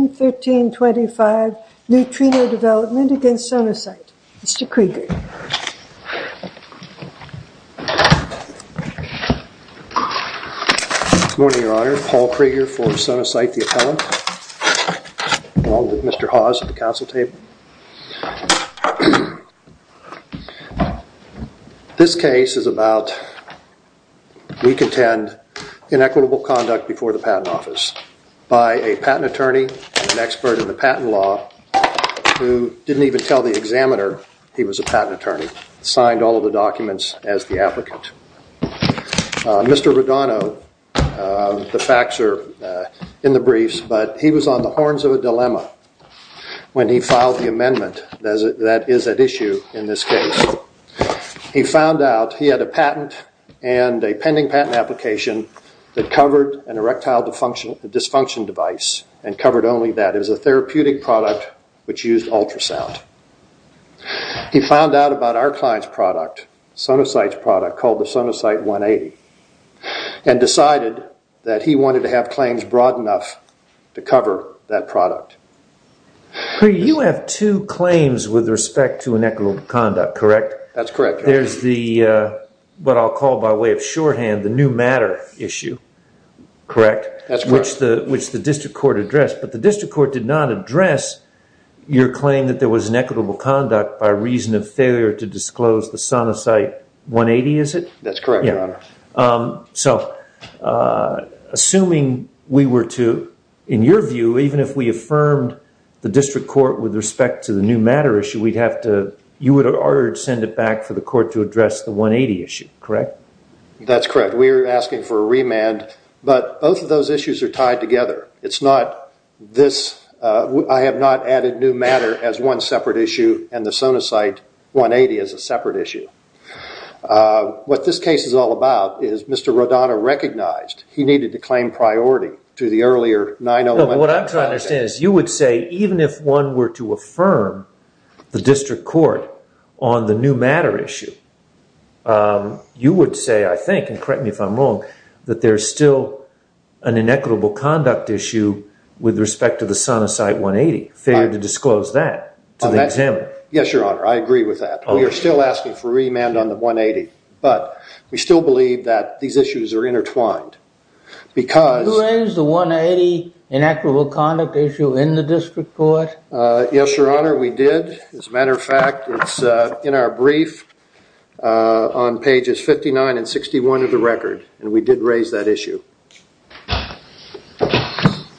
2013-25 Neutrino Development v. Sonosite, Mr. Krieger. Good morning, Your Honor. Paul Krieger for Sonosite, the appellant, along with Mr. Hawes at the counsel table. This case is about, we contend, inequitable conduct before the patent attorney and an expert in the patent law who didn't even tell the examiner he was a patent attorney, signed all of the documents as the applicant. Mr. Rodano, the facts are in the briefs, but he was on the horns of a dilemma when he filed the amendment that is at issue in this case. He found out he had a patent and a pending patent application that covered an erectile dysfunction device and covered only that. It was a therapeutic product which used ultrasound. He found out about our client's product, Sonosite's product, called the Sonosite 180, and decided that he wanted to have claims broad enough to cover that product. You have two claims with respect to inequitable conduct issue, correct? That's correct. Which the district court addressed, but the district court did not address your claim that there was inequitable conduct by reason of failure to disclose the Sonosite 180, is it? That's correct, Your Honor. Assuming we were to, in your view, even if we affirmed the district court with respect to the new matter issue, you would urge to send it back for the court to address the remand, but both of those issues are tied together. It's not this, I have not added new matter as one separate issue and the Sonosite 180 as a separate issue. What this case is all about is Mr. Rodano recognized he needed to claim priority to the earlier 9-0-1. What I'm trying to understand is you would say even if one were to affirm the district court on the new matter issue, you would say, I think, and correct me if I'm wrong, that there's still an inequitable conduct issue with respect to the Sonosite 180, failure to disclose that to the examiner. Yes, Your Honor, I agree with that. We are still asking for remand on the 180, but we still believe that these issues are intertwined. You raised the 180 inequitable conduct issue in the district court? Yes, Your Honor, we did. As a matter of fact, it's in our brief on pages 59 and 61 of the record, and we did raise that issue.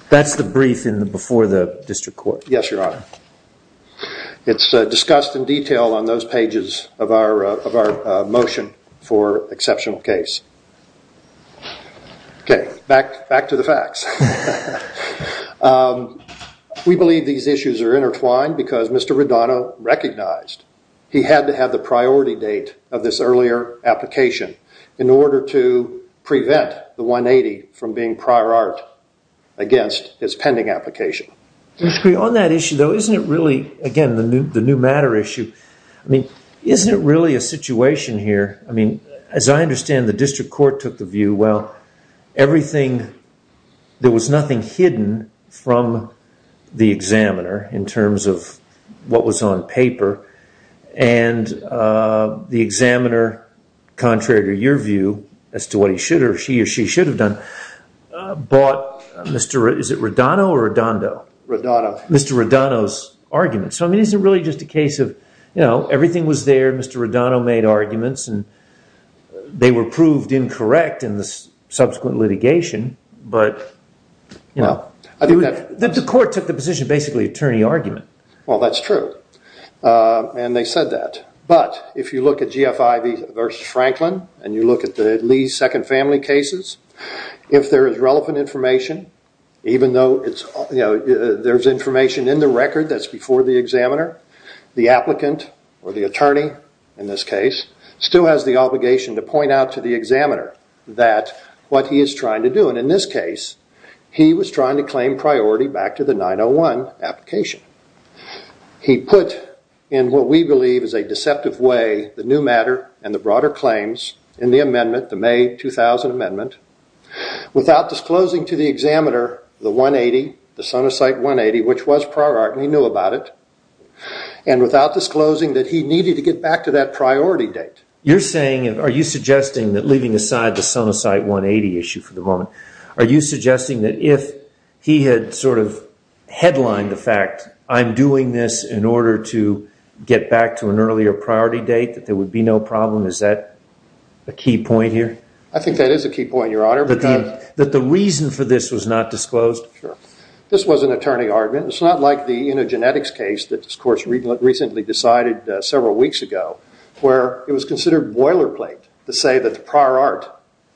That's the brief before the district court? Yes, Your Honor. It's discussed in detail on those pages of our motion for exceptional case. Back to the facts. We believe these issues are intertwined because Mr. Rodano recognized he had to have the priority date of this earlier application in order to prevent the 180 from being prior art against his pending application. On that issue, though, isn't it really, again, the new matter issue, isn't it really a situation here, I mean, as I understand, the district court took the view, well, everything, there was nothing hidden from the examiner in terms of what was on paper, and the examiner, contrary to your view as to what he should or she or she should have done, bought, is it Rodano or Rodando? Rodano. Mr. Rodano's argument. So, I mean, isn't it really just a case of, you know, everything was there, Mr. Rodano made arguments, and they were proved incorrect in the subsequent litigation, but, you know, the court took the position of basically attorney argument. Well, that's true. And they said that. But if you look at GFI v. Franklin, and you look at the Lee's second family cases, if there is relevant information, even though there's information in the record that's before the examiner, the applicant or the attorney, in this case, still has the obligation to point out to the examiner that what he is trying to do, and in this case, he was trying to claim priority back to the 901 application. He put in what we believe is a deceptive way the new matter and the broader claims in the amendment, the May 2000 amendment, without disclosing to the examiner the 180, the sonocyte 180, which was prior art, and he knew about it, and without disclosing that he needed to get back to that priority date. You're saying, are you suggesting that, leaving aside the sonocyte 180 issue for the moment, are you suggesting that if he had sort of headlined the fact, I'm doing this in order to get back to an earlier priority date, that there would be no problem? Is that a key point here? I think that is a key point, Your Honor. But the reason for this was not disclosed? Sure. This was an attorney argument. It's not like the eugenetics case that, of course, recently decided several weeks ago, where it was considered boilerplate to say that the prior art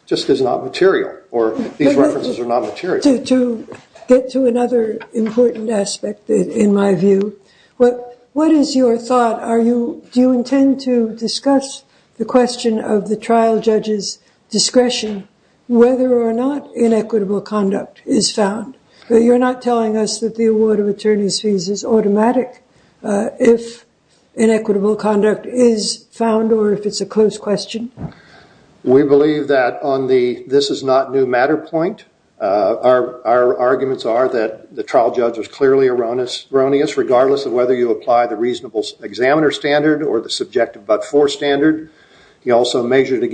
just is not material, or these references are not material. To get to another important aspect, in my view, what is your thought? Do you intend to discuss the question of the trial judge's discretion, whether or not inequitable conduct is found? You're not telling us that the award of attorney's fees is automatic if inequitable conduct is found, or if it's a close question? We believe that on the, this is not new matter point, our arguments are that the trial judge was clearly erroneous, regardless of whether you apply the reasonable examiner standard, or the subjective but-for standard. He also The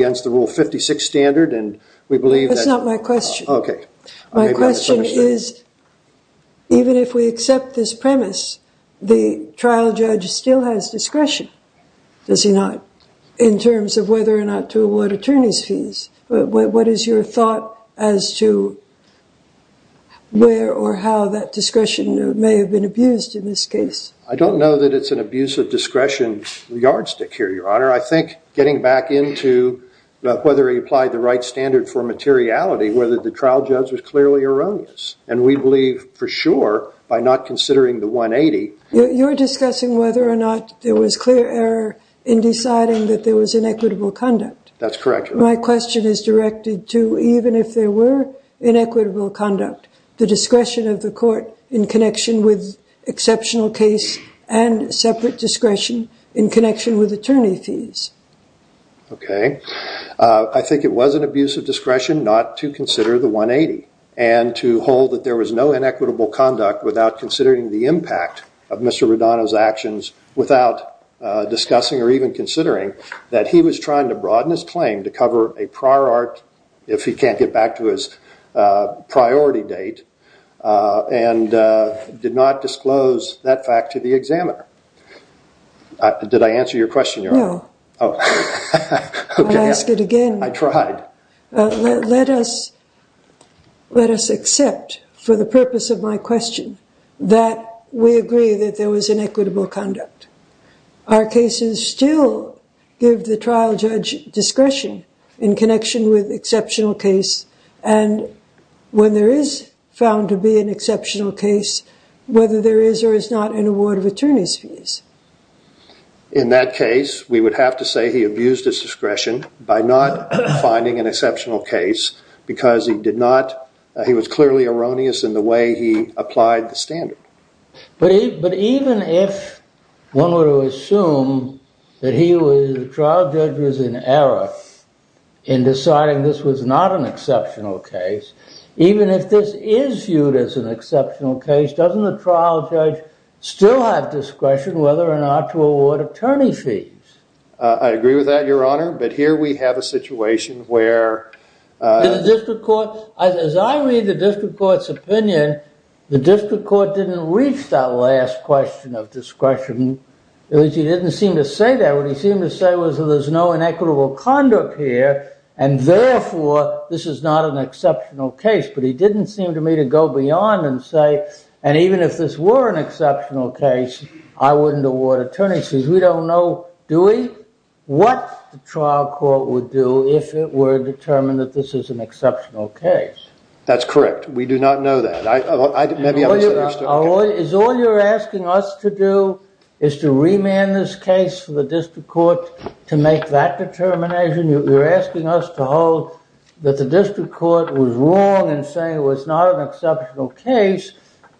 question is, even if we accept this premise, the trial judge still has discretion, does he not, in terms of whether or not to award attorney's fees? What is your thought as to where or how that discretion may have been abused in this case? I don't know that it's an abuse of discretion yardstick here, Your Honor. I think getting back into whether he applied the right standard for materiality, whether the trial judge was clearly erroneous, and we believe for sure, by not considering the 180. You're discussing whether or not there was clear error in deciding that there was inequitable conduct. That's correct, Your Honor. My question is directed to, even if there were inequitable conduct, the discretion of the court in connection with exceptional case and separate discretion in connection with attorney fees. Okay. I think it was an abuse of discretion not to consider the 180, and to hold that there was no inequitable conduct without considering the impact of Mr. Rodano's actions, without discussing or even considering that he was trying to broaden his claim to cover a prior art, if he can't get back to his priority date, and did not disclose that fact to the examiner. Did I answer your question, Your Honor? No. Oh. Okay. I'll ask it again. I tried. Let us accept, for the purpose of my question, that we agree that there was inequitable conduct. Our cases still give the trial judge discretion in connection with exceptional case, and when there is found to be an exceptional case, whether there is or is not an award of attorney's fees. In that case, we would have to say he abused his discretion by not finding an exceptional case because he did not, he was clearly erroneous in the way he applied the standard. But even if one were to assume that he was, the trial judge was in error in deciding this was not an exceptional case, even if this is viewed as an exceptional case, doesn't the trial judge still have discretion, whether or not to award attorney fees? I agree with that, Your Honor, but here we have a situation where- In the district court, as I read the district court's opinion, the district court didn't reach that last question of discretion. He didn't seem to say that. What he seemed to say was that there's no inequitable conduct here, and therefore, this is not an exceptional case, but he didn't seem to me to go beyond and say, and even if this were an exceptional case, I wouldn't award attorney's fees. We don't know, do we, what the trial court would do if it were determined that this is an exceptional case. That's correct. We do not know that. I, maybe I'm mistaken. Is all you're asking us to do is to remand this case for the district court to make that determination. You're asking us to hold that the district court was wrong in saying it was not an exceptional case,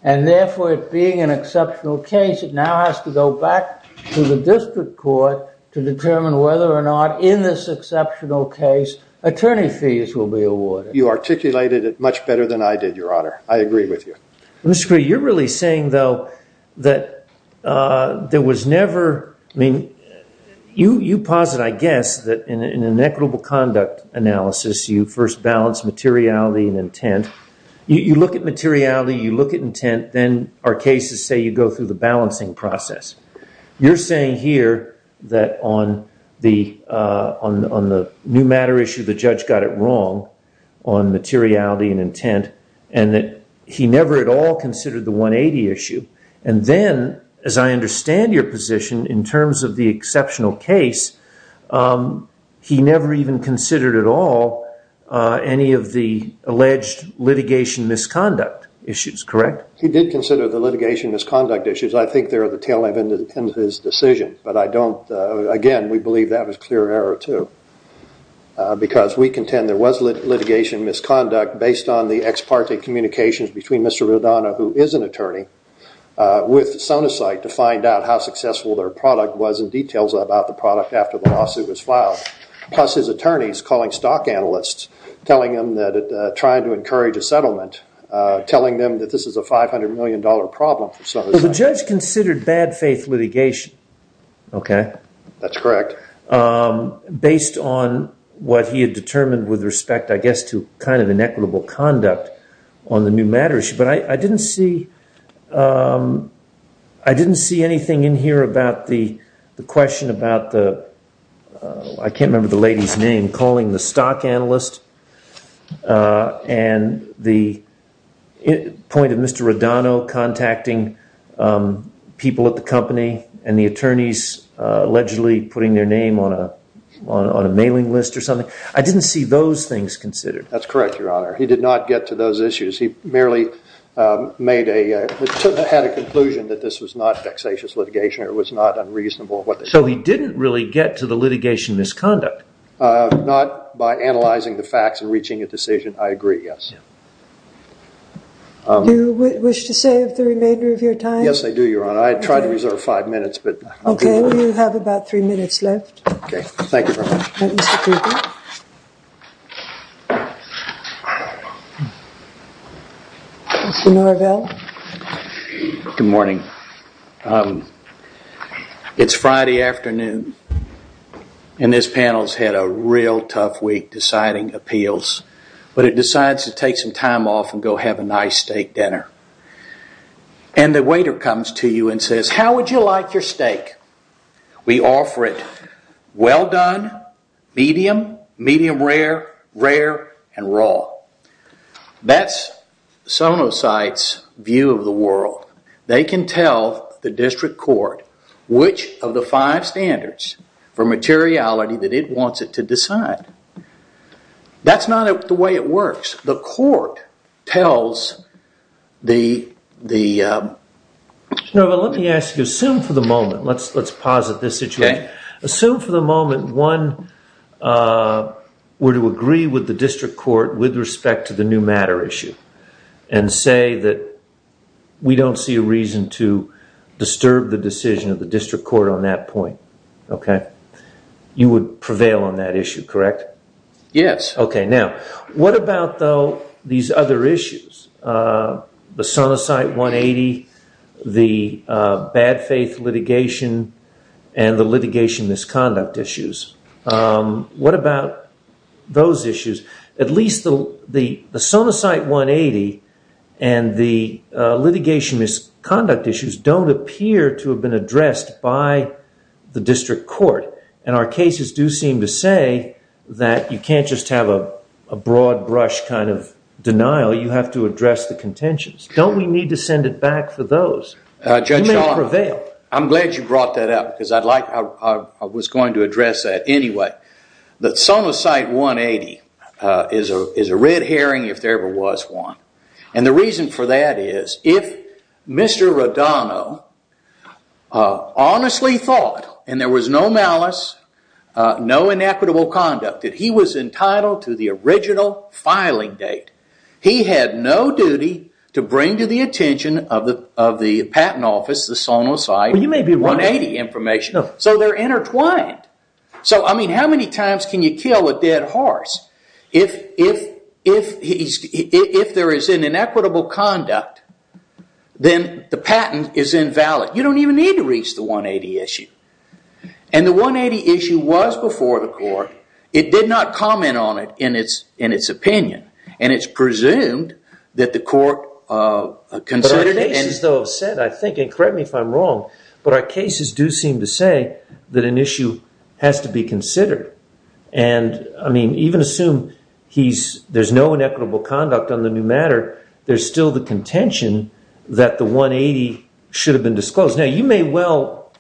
and therefore, it being an exceptional case, it now has to go back to the district court to determine whether or not, in this exceptional case, attorney fees will be awarded. You articulated it much better than I did, Your Honor. I agree with you. Mr. Cree, you're really saying, though, that there was never, I mean, you posit, I guess, that in an inequitable conduct analysis, you first balance materiality and intent. You look at materiality, you look at intent, then our cases say you go through the balancing process. You're saying here that on the new matter issue, the judge got it wrong on materiality and intent, and that he never at all considered the 180 issue. And then, as I understand your position, in terms of the exceptional case, he never even considered at all any of the alleged litigation misconduct issues, correct? He did consider the litigation misconduct issues. I think they're at the tail end of his decision, but I don't, again, we believe that was clear error, too, because we contend there was litigation misconduct based on the apartheid communications between Mr. Rodano, who is an attorney, with Sonocyte to find out how successful their product was and details about the product after the lawsuit was filed, plus his attorneys calling stock analysts, telling them that, trying to encourage a settlement, telling them that this is a $500 million problem for Sonocyte. Well, the judge considered bad faith litigation, okay? That's correct. Based on what he had determined with respect, I guess, to kind of inequitable conduct on the new matter issue. But I didn't see anything in here about the question about the, I can't remember the lady's name, calling the stock analyst and the point of Mr. Rodano contacting people at the company and the attorneys allegedly putting their name on a mailing list or something. I didn't see those things considered. That's correct, Your Honor. He did not get to those issues. He merely had a conclusion that this was not vexatious litigation or it was not unreasonable. So he didn't really get to the litigation misconduct? Not by analyzing the facts and reaching a decision, I agree, yes. Do you wish to save the remainder of your time? Yes, I do, Your Honor. I tried to reserve five minutes, but I'll be brief. Okay, you have about three minutes left. Okay, thank you very much. Mr. Cooper? Mr. Norvell? Good morning. It's Friday afternoon, and this panel's had a real tough week deciding appeals. But it decides to take some time off and go have a nice steak dinner. And the waiter comes to you and says, how would you like your steak? We offer it well done, medium, medium rare, rare, and raw. That's Sonosite's view of the world. They can tell the district court which of the five standards for materiality that it wants it to decide. That's not the way it works. The court tells the... Mr. Norvell, let me ask you, assume for the moment, let's pause at this situation. Assume for the moment one were to agree with the district court with respect to the new matter issue. And say that we don't see a reason to disturb the decision of the district court on that point. Okay. You would prevail on that issue, correct? Yes. Okay, now, what about, though, these other issues? The Sonosite 180, the bad faith litigation, and the litigation misconduct issues. What about those issues? At least the Sonosite 180 and the litigation misconduct issues don't appear to have been addressed by the district court. And our cases do seem to say that you can't just have a broad brush kind of denial. You have to address the contentions. Don't we need to send it back for those? Judge Shaw, I'm glad you brought that up because I was going to address that anyway. But Sonosite 180 is a red herring if there ever was one. And the reason for that is if Mr. Rodano honestly thought, and there was no malice, no inequitable conduct, that he was entitled to the original filing date, he had no duty to bring to the attention of the patent office the Sonosite 180 information. So they're intertwined. So, I mean, how many times can you kill a dead horse? If there is an inequitable conduct, then the patent is invalid. You don't even need to reach the 180 issue. And the 180 issue was before the court. It did not comment on it in its opinion. And it's presumed that the court considered it. And correct me if I'm wrong, but our cases do seem to say that an issue has to be considered. And, I mean, even assume there's no inequitable conduct on the new matter, there's still the contention that the 180 should have been disclosed. Now, you may well,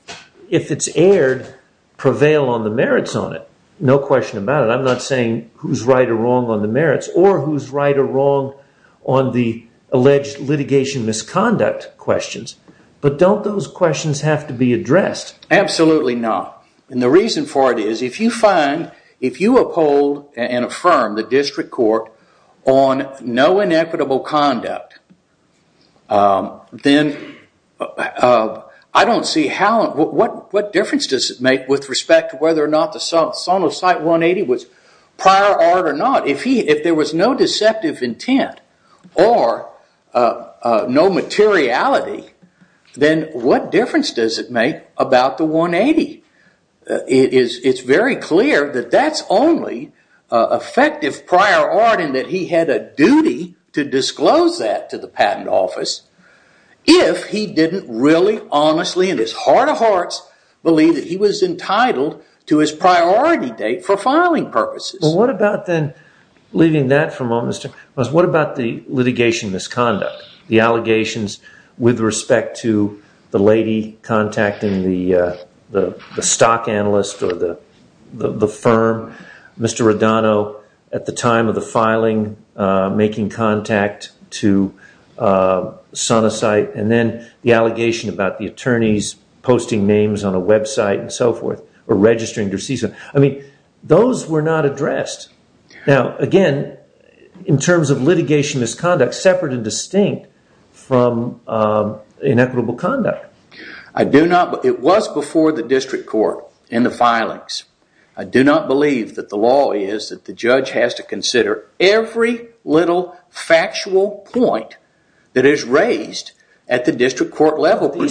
if it's aired, prevail on the merits on it. No question about it. I'm not saying who's right or wrong on the merits, or who's right or wrong on the alleged litigation misconduct questions. But don't those questions have to be addressed? Absolutely not. And the reason for it is, if you find, if you uphold and affirm the district court on no inequitable conduct, then I don't see how, what difference does it make with respect to whether or not the Sonocite 180 was prior art or not. If there was no deceptive intent, or no materiality, then what difference does it make about the 180? It's very clear that that's only effective prior art, and that he had a duty to disclose that to the patent office, if he didn't really, honestly, in his heart of hearts, believe that he was entitled to his priority date for filing purposes. Well, what about then, leaving that for a moment, what about the litigation misconduct? The allegations with respect to the lady contacting the stock analyst or the firm, Mr. Radano, at the time of the filing, making contact to Sonocite, and then the allegation about the attorneys posting names on a website and so forth, or registering their season. I mean, those were not addressed. Now, again, in terms of litigation misconduct, separate and distinct from inequitable conduct. It was before the district court in the filings. I do not believe that the law is that the judge has to consider every little factual point that is raised at the district court level. No, no,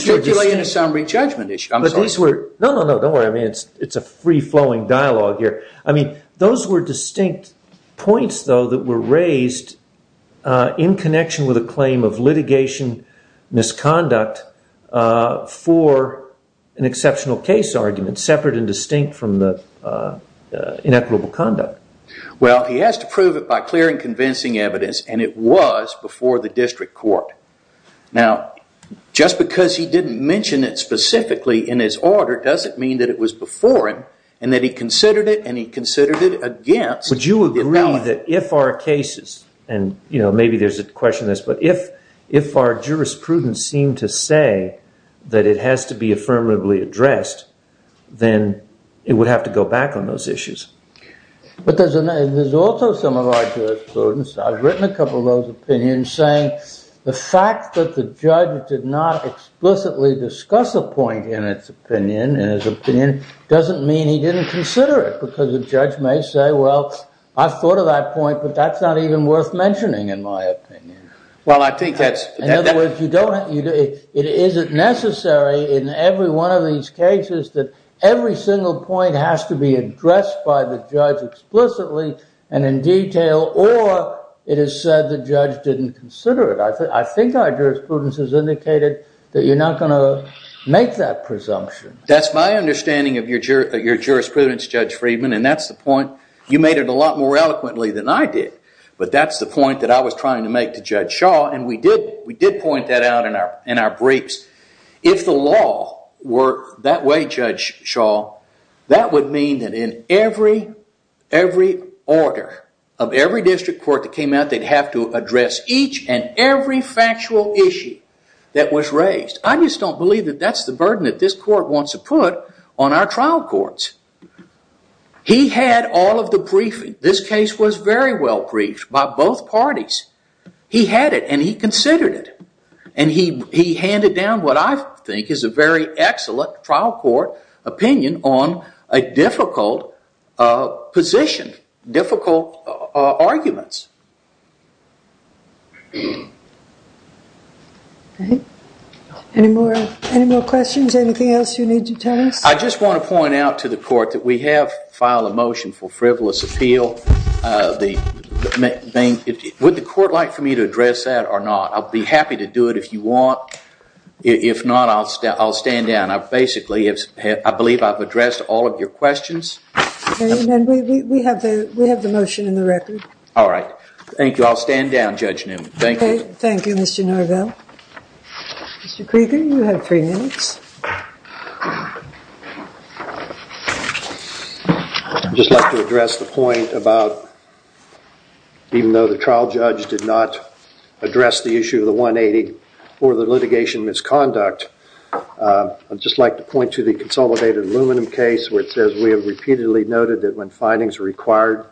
no, don't worry, it's a free-flowing dialogue here. I mean, those were distinct points, though, that were raised in connection with a claim of litigation misconduct for an exceptional case argument, separate and distinct from the inequitable conduct. Well, he has to prove it by clear and convincing evidence, and it was before the district court. Now, just because he didn't mention it specifically in his order doesn't mean that it was before him, and that he considered it, and he considered it against. Would you agree that if our cases, and maybe there's a question on this, but if our jurisprudence seemed to say that it has to be affirmatively addressed, then it would have to go back on those issues? But there's also some of our jurisprudence, I've written a couple of those opinions, saying the fact that the judge did not explicitly discuss a point in his opinion doesn't mean he didn't consider it, because the judge may say, well, I thought of that point, but that's not even worth mentioning, in my opinion. Well, I think that's... In other words, is it necessary in every one of these cases that every single point has to be addressed by the judge explicitly and in detail, or it is said the judge didn't consider it? I think our jurisprudence has indicated that you're not going to make that presumption. That's my understanding of your jurisprudence, Judge Friedman, and that's the point. You made it a lot more eloquently than I did, but that's the point that I was trying to make to Judge Shaw, and we did point that out in our briefs. If the law were that way, Judge Shaw, that would mean that in every order of every district court that came out, they'd have to address each and every factual issue that was raised. I just don't believe that that's the burden that this court wants to put on our trial courts. He had all of the briefing. This case was very well briefed by both parties. He had it, and he considered it, and he handed down what I think is a very excellent trial court opinion on a difficult position, difficult arguments. Any more questions? Anything else you need to tell us? I just want to point out to the court that we have filed a motion for frivolous appeal. Would the court like for me to address that or not? I'll be happy to do it if you want. If not, I'll stand down. Basically, I believe I've addressed all of your questions. We have the motion in the record. All right. Thank you. I'll stand down, Judge Newman. Thank you. Thank you, Mr. Norvell. Mr. Krieger, you have three minutes. I'd just like to address the point about even though the trial judge did not address the issue of the 180 or the litigation misconduct, I'd just like to point to the consolidated aluminum case where it says, we have repeatedly noted that when findings are required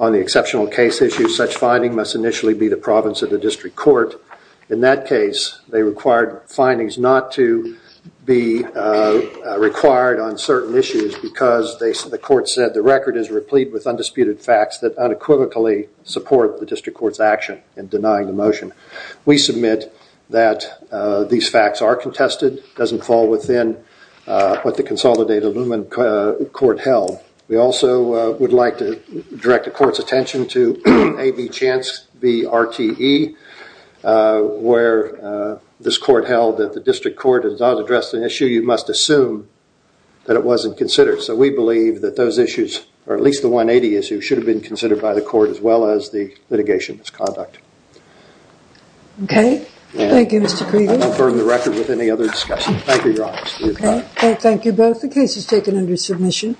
on the exceptional case issue, such finding must initially be the province of the district court. In that case, they required findings not to be required on certain issues because the court said the record is replete with undisputed facts that unequivocally support the district court's action in denying the motion. We submit that these facts are contested. It doesn't fall within what the consolidated aluminum court held. We also would like to direct the court's attention to A.B. Chance v. RTE, where this court held that the district court has not addressed an issue you must assume that it wasn't considered. So we believe that those issues, or at least the 180 issue, should have been considered by the court as well as the litigation misconduct. Okay. Thank you, Mr. Krieger. I'll confirm the record with any other discussion. Thank you, Your Honor. Okay. Thank you both. The case is taken under submission.